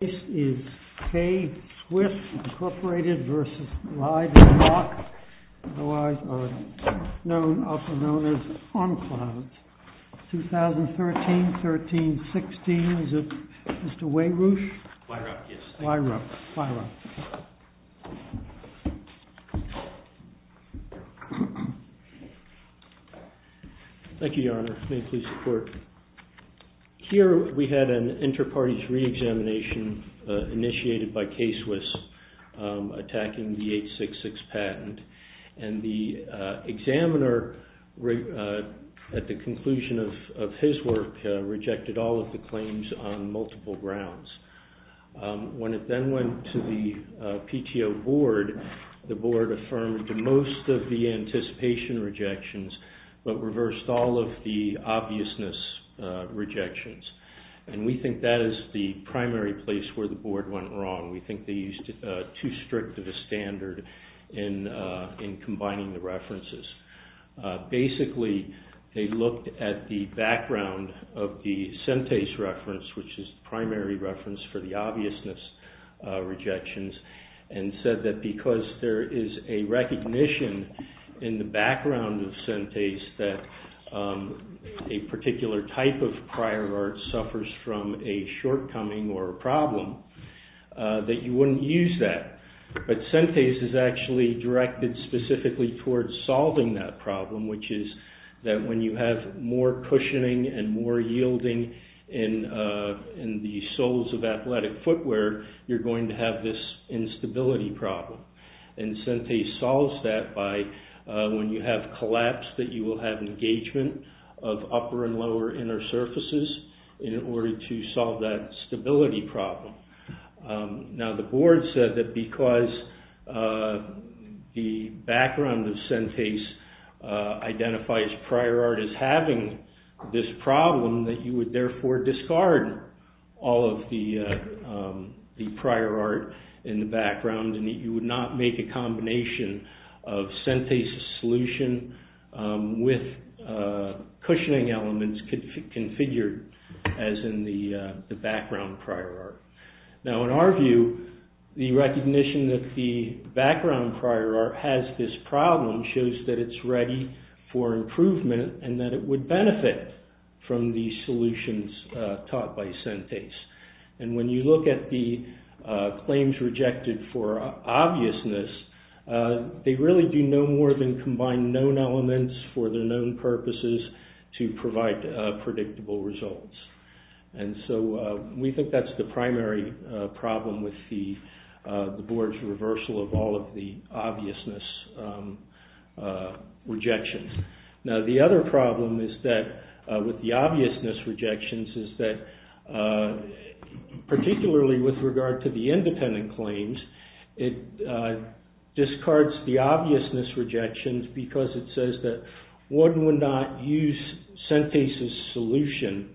This is K-Swiss Inc. v. Glide'n Lock, also known as Encloud. 2013-13-16, is it Mr. Weyruch? Weyruch, yes. Weyruch. Weyruch. Thank you, Your Honor. May it please the Court. Here we had an inter-parties re-examination initiated by K-Swiss attacking the 866 patent. And the examiner, at the conclusion of his work, rejected all of the claims on multiple grounds. When it then went to the PTO Board, the Board affirmed most of the anticipation rejections, but reversed all of the obviousness rejections. And we think that is the primary place where the Board went wrong. We think they used too strict of a standard in combining the references. Basically, they looked at the background of the Sentes reference, which is the primary reference for the obviousness rejections, and said that because there is a recognition in the background of Sentes that a particular type of prior art suffers from a shortcoming or a problem, that you wouldn't use that. But Sentes is actually directed specifically towards solving that problem, which is that when you have more cushioning and more yielding in the soles of athletic footwear, you're going to have this instability problem. And Sentes solves that by, when you have collapse, that you will have engagement of upper and lower inner surfaces in order to solve that stability problem. Now, the Board said that because the background of Sentes identifies prior art as having this problem, that you would therefore discard all of the prior art in the background and that you would not make a combination of Sentes' solution with cushioning elements configured as in the background prior art. Now, in our view, the recognition that the background prior art has this problem shows that it's ready for improvement and that it would benefit from the solutions taught by Sentes. And when you look at the claims rejected for obviousness, they really do no more than combine known elements for their known purposes to provide predictable results. And so, we think that's the primary problem with the Board's reversal of all of the obviousness rejections. Now, the other problem is that with the obviousness rejections is that, particularly with regard to the independent claims, it discards the obviousness rejections because it says that one would not use Sentes' solution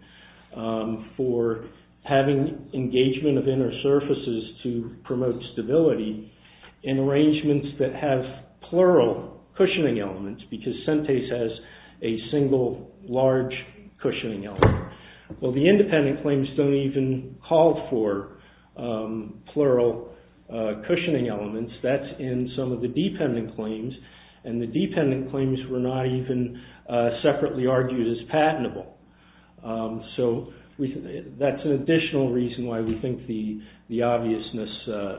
for having engagement of inner surfaces to promote stability in arrangements that have plural cushioning elements because Sentes has a single large cushioning element. Well, the independent claims don't even call for plural cushioning elements. That's in some of the dependent claims. And the dependent claims were not even separately argued as patentable. So, that's an additional reason why we think the obviousness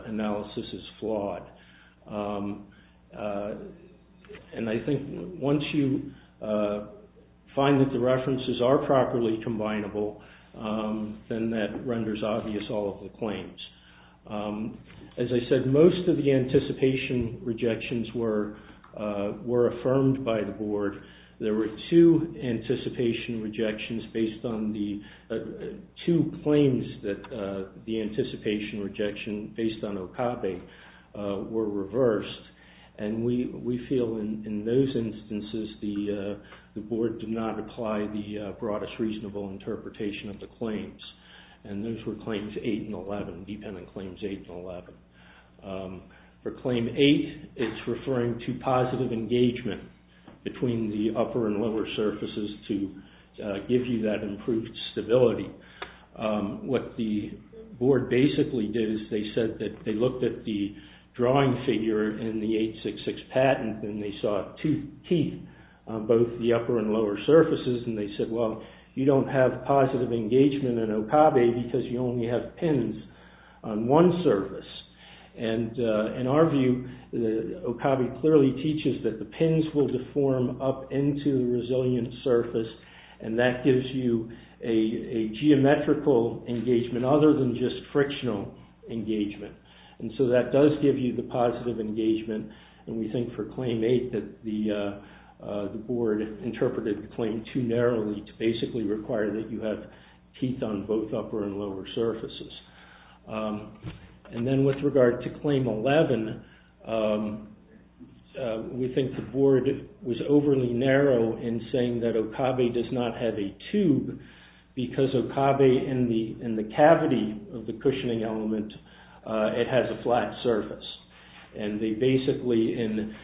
analysis is flawed. And I think once you find that the references are properly combinable, then that renders obvious all of the claims. As I said, most of the anticipation rejections were affirmed by the Board. There were two anticipation rejections based on the, two claims that the anticipation rejection based on Okabe were reversed. And we feel in those instances the Board did not apply the broadest reasonable interpretation of the claims. And those were claims 8 and 11, dependent claims 8 and 11. For claim 8, it's referring to positive engagement between the upper and lower surfaces to give you that improved stability. What the Board basically did is they said that they looked at the drawing figure in the 866 patent and they saw two teeth on both the upper and lower surfaces and they said, well, you don't have positive engagement in Okabe because you only have pins on one surface. And in our view, Okabe clearly teaches that the pins will deform up into the resilient surface and that gives you a geometrical engagement other than just frictional engagement. And so that does give you the positive engagement and we think for claim 8 that the Board interpreted the claim too narrowly to basically require that you have teeth on both upper and lower surfaces. And then with regard to claim 11, we think the Board was overly narrow in saying that Okabe does not have a tube because Okabe in the cavity of the cushioning element, it has a flat surface. And they basically, in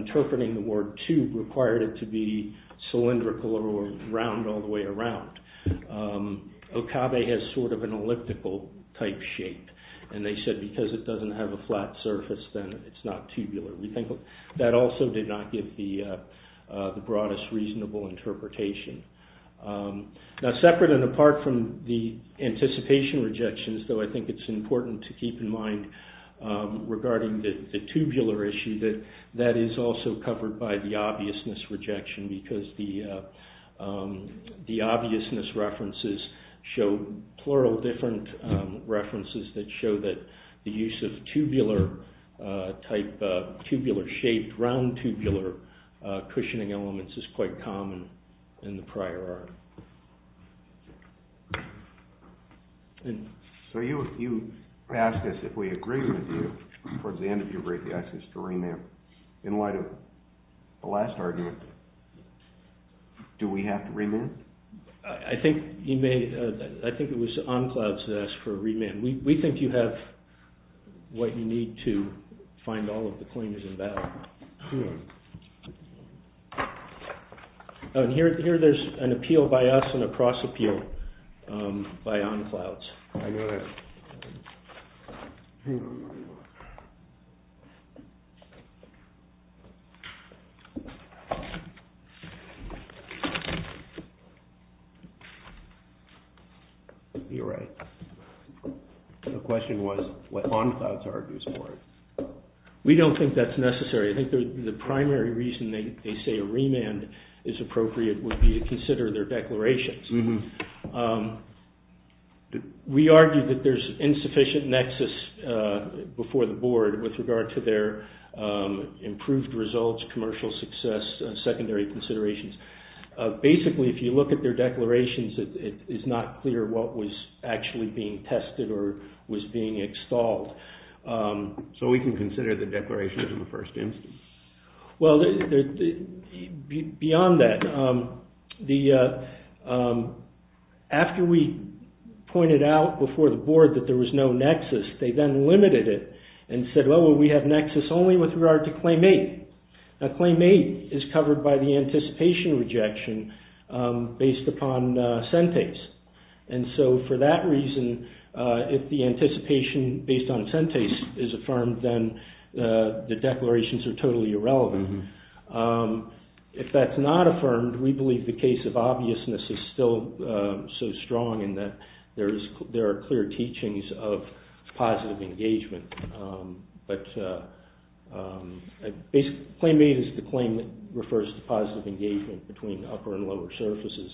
interpreting the word tube, required it to be cylindrical or round all the way around. Okabe has sort of an elliptical type shape and they said because it doesn't have a flat surface, then it's not tubular. We think that also did not give the broadest reasonable interpretation. Now separate and apart from the anticipation rejections, though I think it's important to keep in mind regarding the tubular issue that that is also covered by the obviousness rejection because the obviousness references show plural different references that show that the use of tubular type shape, round tubular cushioning elements is quite common in the prior art. So you asked us if we agree with you towards the end of your brief, you asked us to remand. In light of the last argument, do we have to remand? I think it was On Clouds that asked for a remand. We think you have what you need to find all of the claimants in battle. Here there's an appeal by us and a cross appeal by On Clouds. You're right. The question was what On Clouds argues for. We don't think that's necessary. I think the primary reason they say a remand is appropriate would be to consider their declarations. We argue that there's insufficient nexus before the board with regard to their improved results, commercial success, secondary considerations. Basically, if you look at their declarations, it's not clear what was actually being tested or was being extolled. So we can consider the declarations in the first instance? Well, beyond that, after we pointed out before the board that there was no nexus, they then limited it and said, well, we have nexus only with regard to Claim 8. Now, Claim 8 is covered by the anticipation rejection based upon Sentase. And so for that reason, if the anticipation based on Sentase is affirmed, then the declarations are totally irrelevant. If that's not affirmed, we believe the case of obviousness is still so strong in that there are clear teachings of positive engagement. Claim 8 refers to positive engagement between upper and lower surfaces.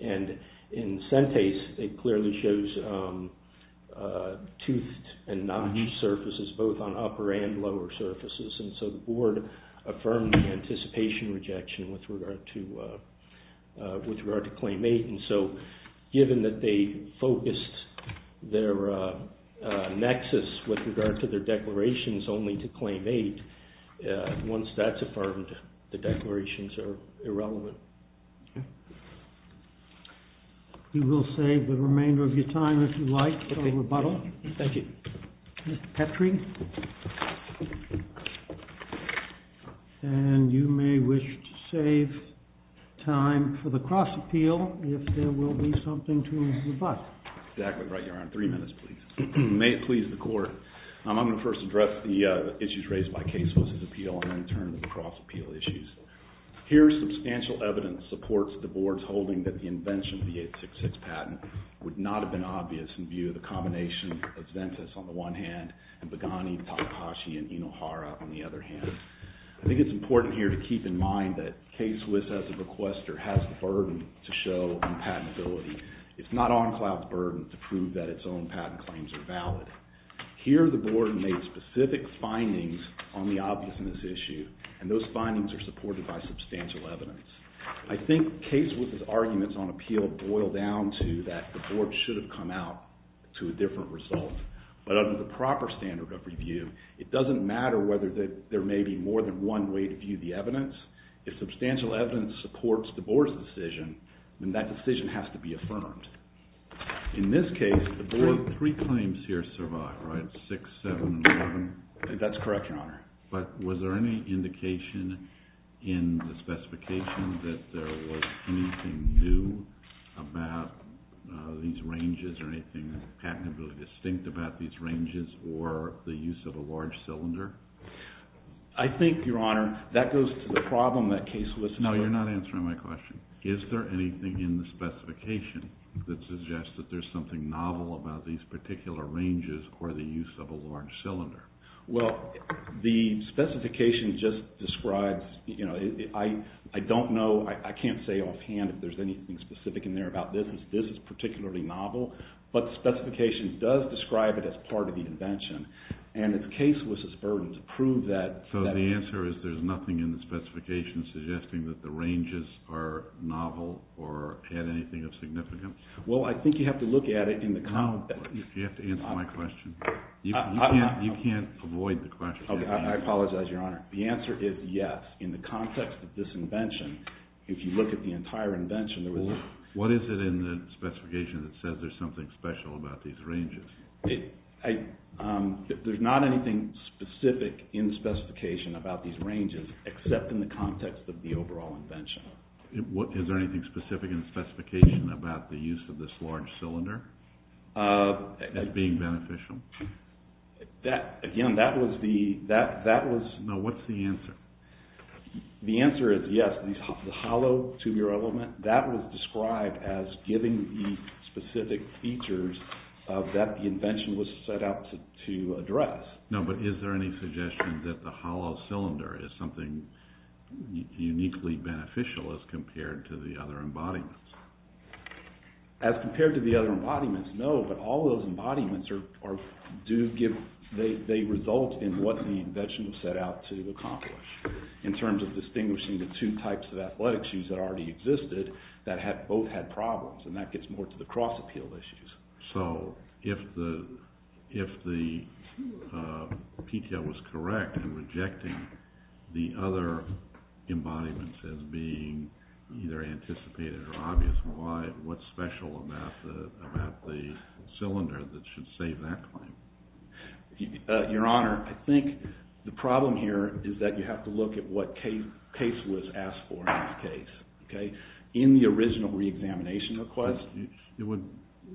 And in Sentase, it clearly shows toothed and notched surfaces, both on upper and lower surfaces. And so the board affirmed the anticipation rejection with regard to Claim 8. And so, given that they focused their nexus with regard to their declarations only to Claim 8, once that's affirmed, the declarations are irrelevant. We will save the remainder of your time, if you like, for rebuttal. Thank you. Mr. Petrie? And you may wish to save time for the cross-appeal if there will be something to rebut. Exactly right, Your Honor. Three minutes, please. May it please the Court, I'm going to first address the issues raised by Casewitz's appeal and then turn to the cross-appeal issues. Here, substantial evidence supports the board's holding that the invention of the 866 patent would not have been obvious in view of the combination of Sentase on the one hand and Bagani, Takahashi, and Inohara on the other hand. I think it's important here to keep in mind that Casewitz, as a requester, has the burden to show unpatentability. It's not Encloud's burden to prove that its own patent claims are valid. Here, the board made specific findings on the obviousness issue, and those findings are supported by substantial evidence. I think Casewitz's arguments on appeal boil down to that the board should have come out to a different result. But under the proper standard of review, it doesn't matter whether there may be more than one way to view the evidence. If substantial evidence supports the board's decision, then that decision has to be affirmed. In this case, the board… Three claims here survive, right? 6, 7, and 11? That's correct, Your Honor. But was there any indication in the specification that there was anything new about these ranges or anything patentability distinct about these ranges or the use of a large cylinder? I think, Your Honor, that goes to the problem that Casewitz… No, you're not answering my question. Is there anything in the specification that suggests that there's something novel about these particular ranges or the use of a large cylinder? Well, the specification just describes… I don't know, I can't say offhand if there's anything specific in there about this. This is particularly novel, but the specification does describe it as part of the invention. And it's Casewitz's burden to prove that… So the answer is there's nothing in the specification suggesting that the ranges are novel or add anything of significance? Well, I think you have to look at it in the context… No, you have to answer my question. You can't avoid the question. I apologize, Your Honor. The answer is yes. In the context of this invention, if you look at the entire invention, there was… What is it in the specification that says there's something special about these ranges? There's not anything specific in the specification about these ranges except in the context of the overall invention. Is there anything specific in the specification about the use of this large cylinder as being beneficial? Again, that was the… No, what's the answer? The answer is yes. The hollow two-year element, that was described as giving the specific features that the invention was set out to address. No, but is there any suggestion that the hollow cylinder is something uniquely beneficial as compared to the other embodiments? As compared to the other embodiments, no. But all those embodiments result in what the invention was set out to accomplish, in terms of distinguishing the two types of athletic shoes that already existed that both had problems, and that gets more to the cross-appeal issues. So, if the PTO was correct in rejecting the other embodiments as being either anticipated or obvious, what's special about the cylinder that should save that claim? Your Honor, I think the problem here is that you have to look at what case was asked for in this case. In the original re-examination request… It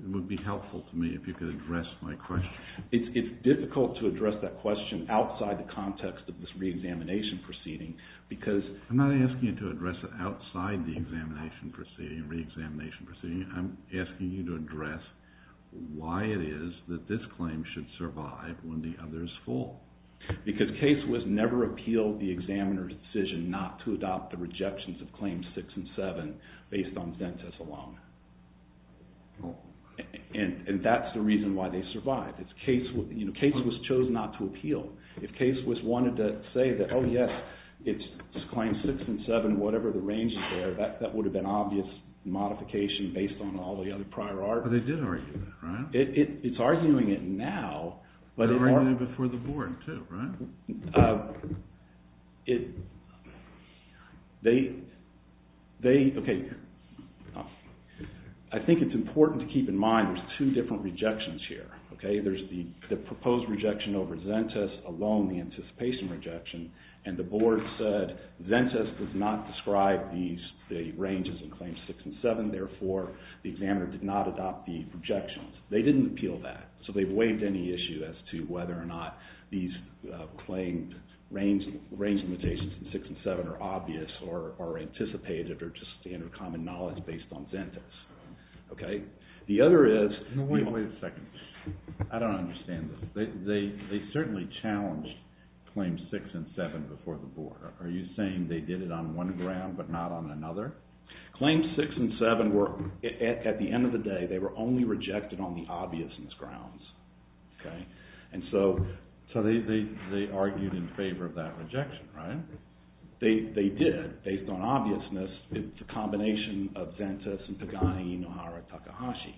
would be helpful to me if you could address my question. It's difficult to address that question outside the context of this re-examination proceeding because… I'm not asking you to address it outside the examination proceeding, re-examination proceeding. I'm asking you to address why it is that this claim should survive when the other is full. Because case was never appealed the examiner's decision not to adopt the rejections of claims 6 and 7 based on dentists alone. And that's the reason why they survived. Case was chosen not to appeal. If case was wanted to say that, oh yes, it's claims 6 and 7, whatever the range is there, that would have been obvious modification based on all the other prior arguments. They did argue that, right? It's arguing it now, but… They're arguing it before the board, too, right? They, okay, I think it's important to keep in mind there's two different rejections here. There's the proposed rejection over dentists alone, the anticipation rejection, and the board said dentists did not describe the ranges in claims 6 and 7. Therefore, the examiner did not adopt the rejections. They didn't appeal that, so they waived any issue as to whether or not these claimed range limitations in 6 and 7 are obvious or anticipated or just standard common knowledge based on dentists. The other is… Wait a second. I don't understand this. They certainly challenged claims 6 and 7 before the board. Are you saying they did it on one ground but not on another? Claims 6 and 7 were, at the end of the day, they were only rejected on the obviousness grounds. So they argued in favor of that rejection, right? They did, based on obviousness. It's a combination of dentists and Pagani Inohara Takahashi.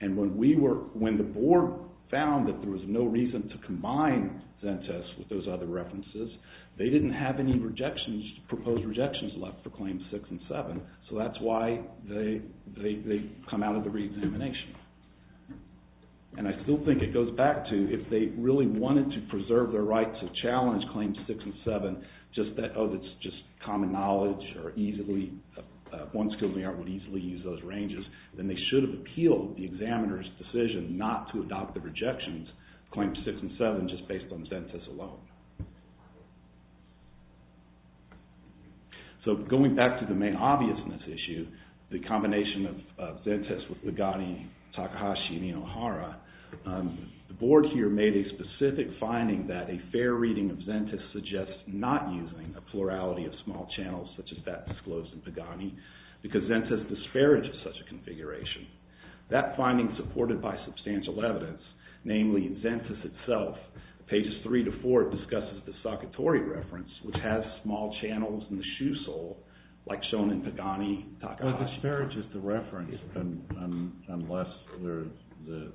And when the board found that there was no reason to combine dentists with those other references, they didn't have any proposed rejections left for claims 6 and 7, so that's why they come out of the re-examination. And I still think it goes back to, if they really wanted to preserve their right to challenge claims 6 and 7, just that, oh, it's just common knowledge or easily… one school may not easily use those ranges, then they should have appealed the examiner's decision not to adopt the rejections, claims 6 and 7, just based on dentists alone. So going back to the main obviousness issue, the combination of dentists with Pagani Takahashi Inohara, the board here made a specific finding that a fair reading of dentists suggests not using a plurality of small channels such as that disclosed in Pagani because dentists disparage such a configuration. That finding, supported by substantial evidence, namely in Zentes itself, pages 3 to 4, discusses the Sakatori reference, which has small channels in the shoe sole, like shown in Pagani Takahashi. It disparages the reference unless the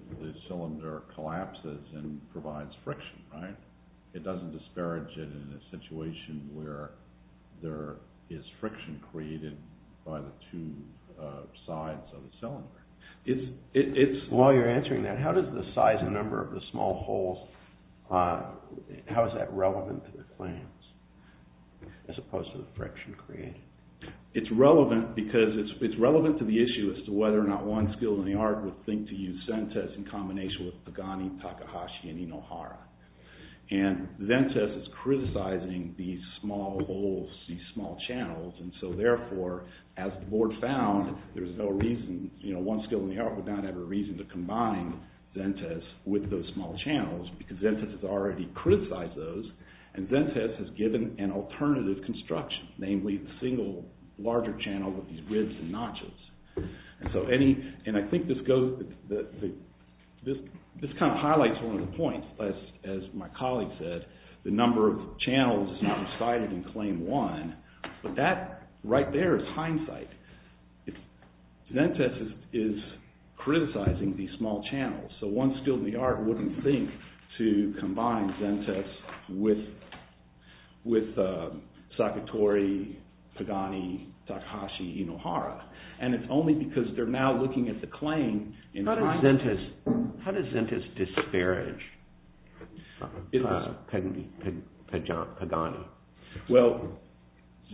cylinder collapses and provides friction, right? It doesn't disparage it in a situation where there is friction created by the two sides of the cylinder. While you're answering that, how does the size and number of the small holes, how is that relevant to the claims as opposed to the friction created? It's relevant because it's relevant to the issue as to whether or not one skill in the art would think to use Zentes in combination with Pagani Takahashi Inohara. Zentes is criticizing these small holes, these small channels, and so therefore, as the board found, there's no reason, one skill in the art would not have a reason to combine Zentes with those small channels because Zentes has already criticized those and Zentes has given an alternative construction, namely a single larger channel with these ribs and notches. I think this kind of highlights one of the points, as my colleague said, the number of channels is not decided in claim one, but that right there is hindsight. Zentes is criticizing these small channels, so one skill in the art wouldn't think to combine Zentes with Sakatori, Pagani, Takahashi, Inohara, and it's only because they're now looking at the claim. How does Zentes disparage Pagani? Well,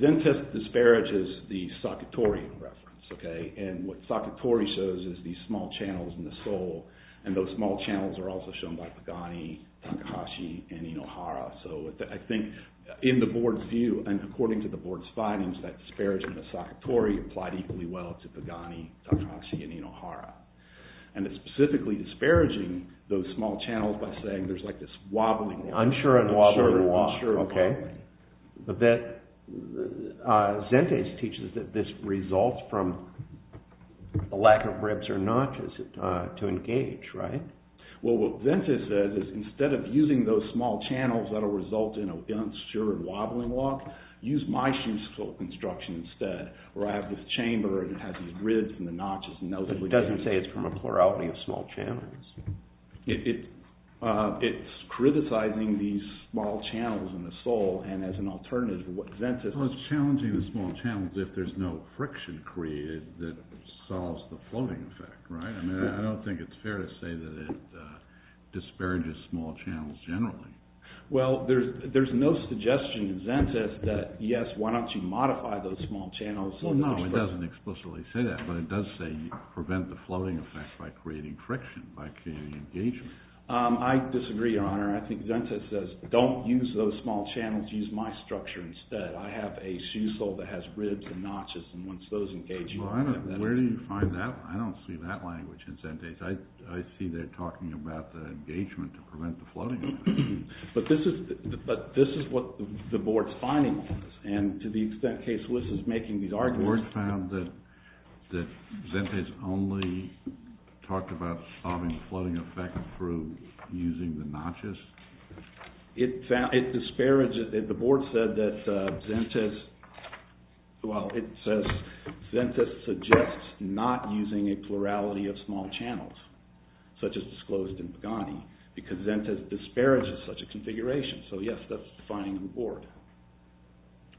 Zentes disparages the Sakatori reference, and what Sakatori shows is these small channels in the sole and those small channels are also shown by Pagani, Takahashi, and Inohara, so I think in the board's view, and according to the board's findings, that disparagement of Sakatori applied equally well to Pagani, Takahashi, and Inohara, and it's specifically disparaging those small channels by saying there's this wobbling, Zentes teaches that this results from a lack of ribs or notches to engage, right? Well, what Zentes says is instead of using those small channels that will result in an unassured wobbling lock, use my construction instead, where I have this chamber and it has these ribs and notches. It doesn't say it's from a plurality of small channels. It's criticizing these small channels in the sole and as an alternative to what Zentes... Well, it's challenging the small channels if there's no friction created that solves the floating effect, right? I mean, I don't think it's fair to say that it disparages small channels generally. Well, there's no suggestion in Zentes that, yes, why don't you modify those small channels... No, it doesn't explicitly say that, but it does say prevent the floating effect by creating friction, by creating engagement. I disagree, Your Honor. I think Zentes says don't use those small channels, use my structure instead. I have a shoe sole that has ribs and notches, and once those engage... Well, I don't, where do you find that? I don't see that language in Zentes. I see they're talking about the engagement to prevent the floating effect. But this is what the board's finding is, and to the extent Case Wiss is making these arguments... The board found that Zentes only talked about solving the floating effect through using the notches? It disparages, the board said that Zentes, well, it says Zentes suggests not using a plurality of small channels, such as disclosed in Pagani, because Zentes disparages such a configuration. So, yes, that's defining the board.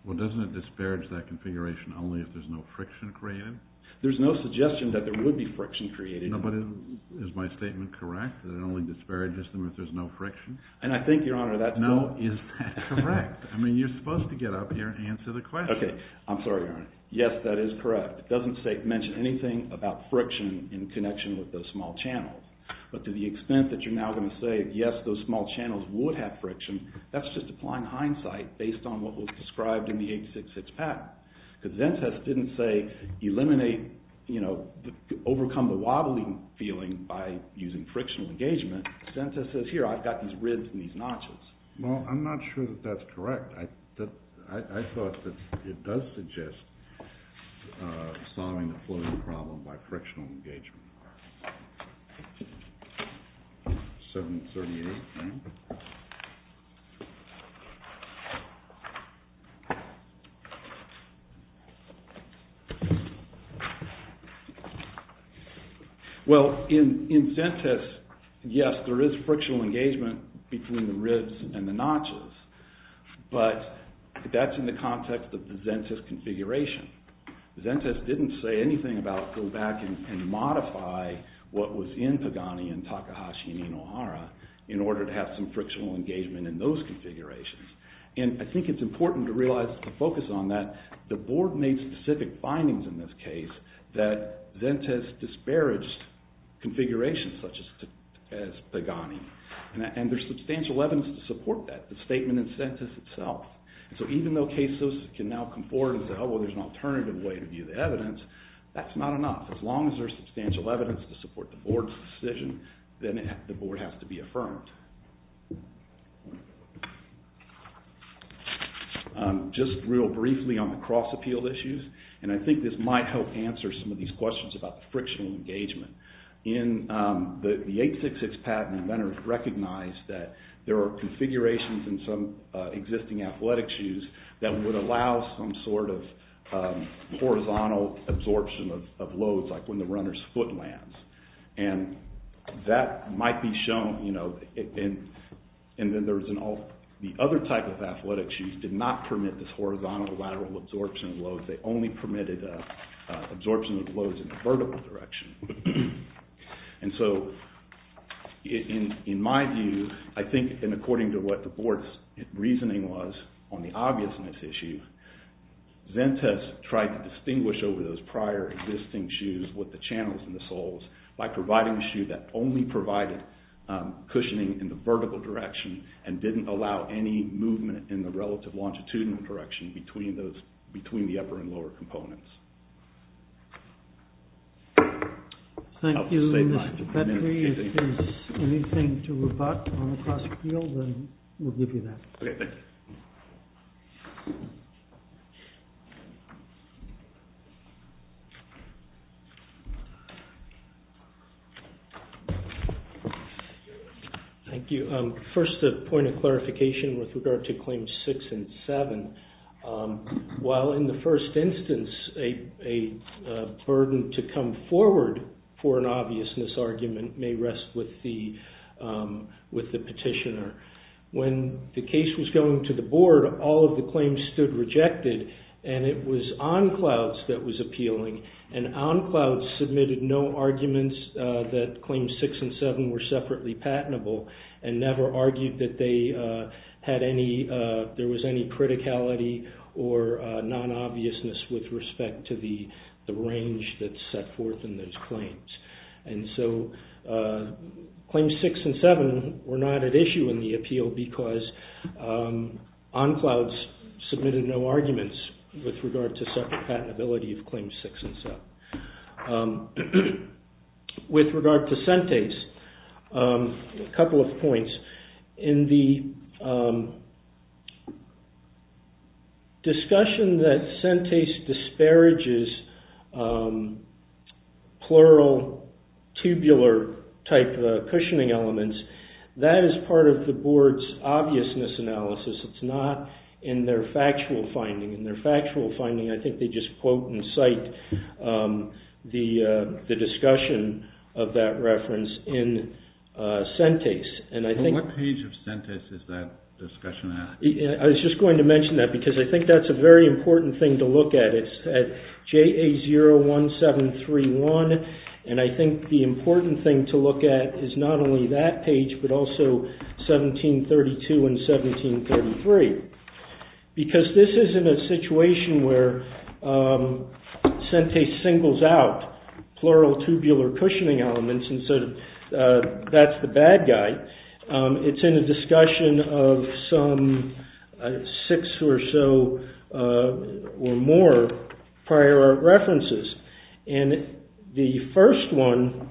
Well, doesn't it disparage that configuration only if there's no friction created? There's no suggestion that there would be friction created. No, but is my statement correct, that it only disparages them if there's no friction? And I think, Your Honor, that's... No, is that correct? I mean, you're supposed to get up here and answer the question. Okay, I'm sorry, Your Honor. Yes, that is correct. It doesn't mention anything about friction in connection with those small channels. But to the extent that you're now going to say, yes, those small channels would have friction, that's just applying hindsight based on what was described in the 866 patent. Because Zentes didn't say, eliminate, you know, overcome the wobbling feeling by using frictional engagement. Zentes says, here, I've got these ribs and these notches. Well, I'm not sure that that's correct. I thought that it does suggest solving the floating problem by frictional engagement. 738. Well, in Zentes, yes, there is frictional engagement between the ribs and the notches. But that's in the context of the Zentes configuration. Zentes didn't say anything about go back and modify what was in Pagani and Takahashi and Inohara in order to have some frictional engagement in those configurations. And I think it's important to realize, to focus on that, the board made specific findings in this case that Zentes disparaged configurations such as Pagani. And there's substantial evidence to support that, the statement in Zentes itself. So even though cases can now come forward and say, oh, well, there's an alternative way to view the evidence, that's not enough. As long as there's substantial evidence to support the board's decision, then the board has to be affirmed. Just real briefly on the cross-appeal issues, and I think this might help answer some of these questions about the frictional engagement. In the 866 patent, the inventor recognized that there are configurations in some existing athletic shoes that would allow some sort of horizontal absorption of loads, like when the runner's foot lands. And that might be shown, you know, and then there's the other type of athletic shoes did not permit this horizontal lateral absorption of loads. They only permitted absorption of loads in the vertical direction. And so, in my view, I think, and according to what the board's reasoning was on the obviousness issue, Zentes tried to distinguish over those prior existing shoes with the channels in the soles by providing a shoe that only provided cushioning in the vertical direction and didn't allow any movement in the relative longitudinal direction between the upper and lower components. Thank you, Mr. Petty. If there's anything to rebut on the cross-appeal, then we'll give you that. Okay, thank you. Thank you. First, a point of clarification with regard to Claims 6 and 7. While in the first instance, a burden to come forward for an obviousness argument may rest with the petitioner, when the case was going to the board, all of the claims stood rejected, and it was OnClouds that was appealing. And OnClouds submitted no arguments that Claims 6 and 7 were separately patentable and never argued that there was any criticality or non-obviousness with respect to the range that's set forth in those claims. And so, Claims 6 and 7 were not at issue in the appeal because OnClouds submitted no arguments with regard to separate patentability of Claims 6 and 7. With regard to Sentase, a couple of points. In the discussion that Sentase disparages plural tubular type of cushioning elements, that is part of the board's obviousness analysis. It's not in their factual finding. In their factual finding, I think they just quote and cite the discussion of that reference in Sentase. What page of Sentase is that discussion at? I was just going to mention that because I think that's a very important thing to look at. It's at JA01731, and I think the important thing to look at is not only that page, but also 1732 and 1733. Because this is in a situation where Sentase singles out plural tubular cushioning elements, and so that's the bad guy. It's in a discussion of some six or so or more prior art references. The first one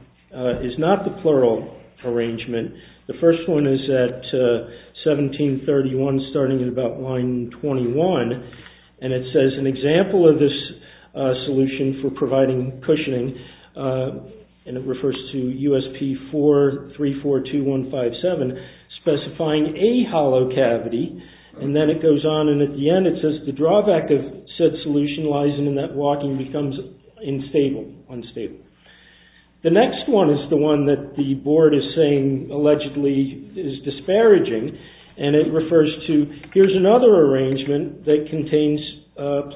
is not the plural arrangement. The first one is at 1731, starting at about line 21, and it says an example of this solution for providing cushioning, and it refers to USP4342157, specifying a hollow cavity. Then it goes on, and at the end it says the drawback of said solution lies in that walking becomes unstable. The next one is the one that the board is saying allegedly is disparaging, and it refers to here's another arrangement that contains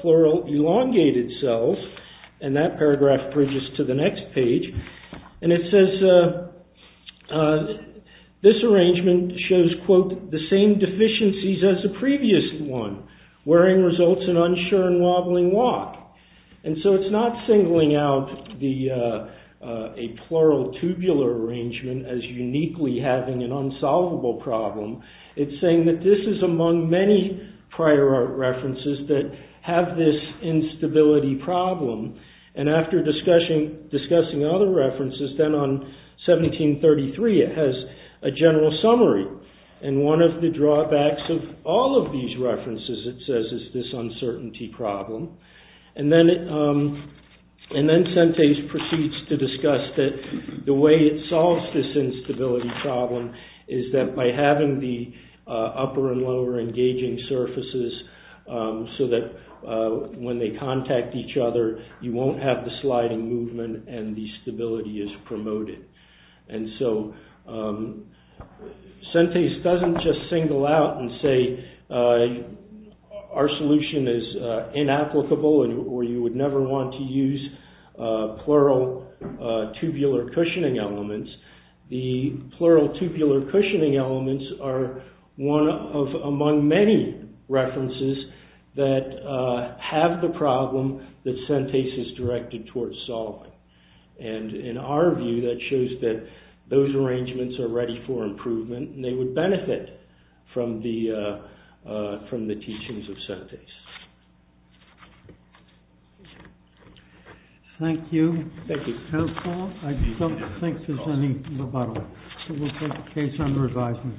plural elongated cells, and that paragraph bridges to the next page. And it says this arrangement shows, quote, the same deficiencies as the previous one, wearing results in unsure and wobbling walk. And so it's not singling out a plural tubular arrangement as uniquely having an unsolvable problem. It's saying that this is among many prior art references that have this instability problem, and after discussing other references, then on 1733 it has a general summary, and one of the drawbacks of all of these references, it says, is this uncertainty problem. And then Sente proceeds to discuss that the way it solves this instability problem is that by having the upper and lower engaging surfaces, so that when they contact each other, you won't have the sliding movement, and the stability is promoted. And so Sente doesn't just single out and say our solution is inapplicable, or you would never want to use plural tubular cushioning elements. The plural tubular cushioning elements are among many references that have the problem that Sente is directed towards solving. And in our view, that shows that those arrangements are ready for improvement, and they would benefit from the teachings of Sente. Thank you. Thank you. Counsel, I don't think there's any rebuttal, so we'll take the case under advisement.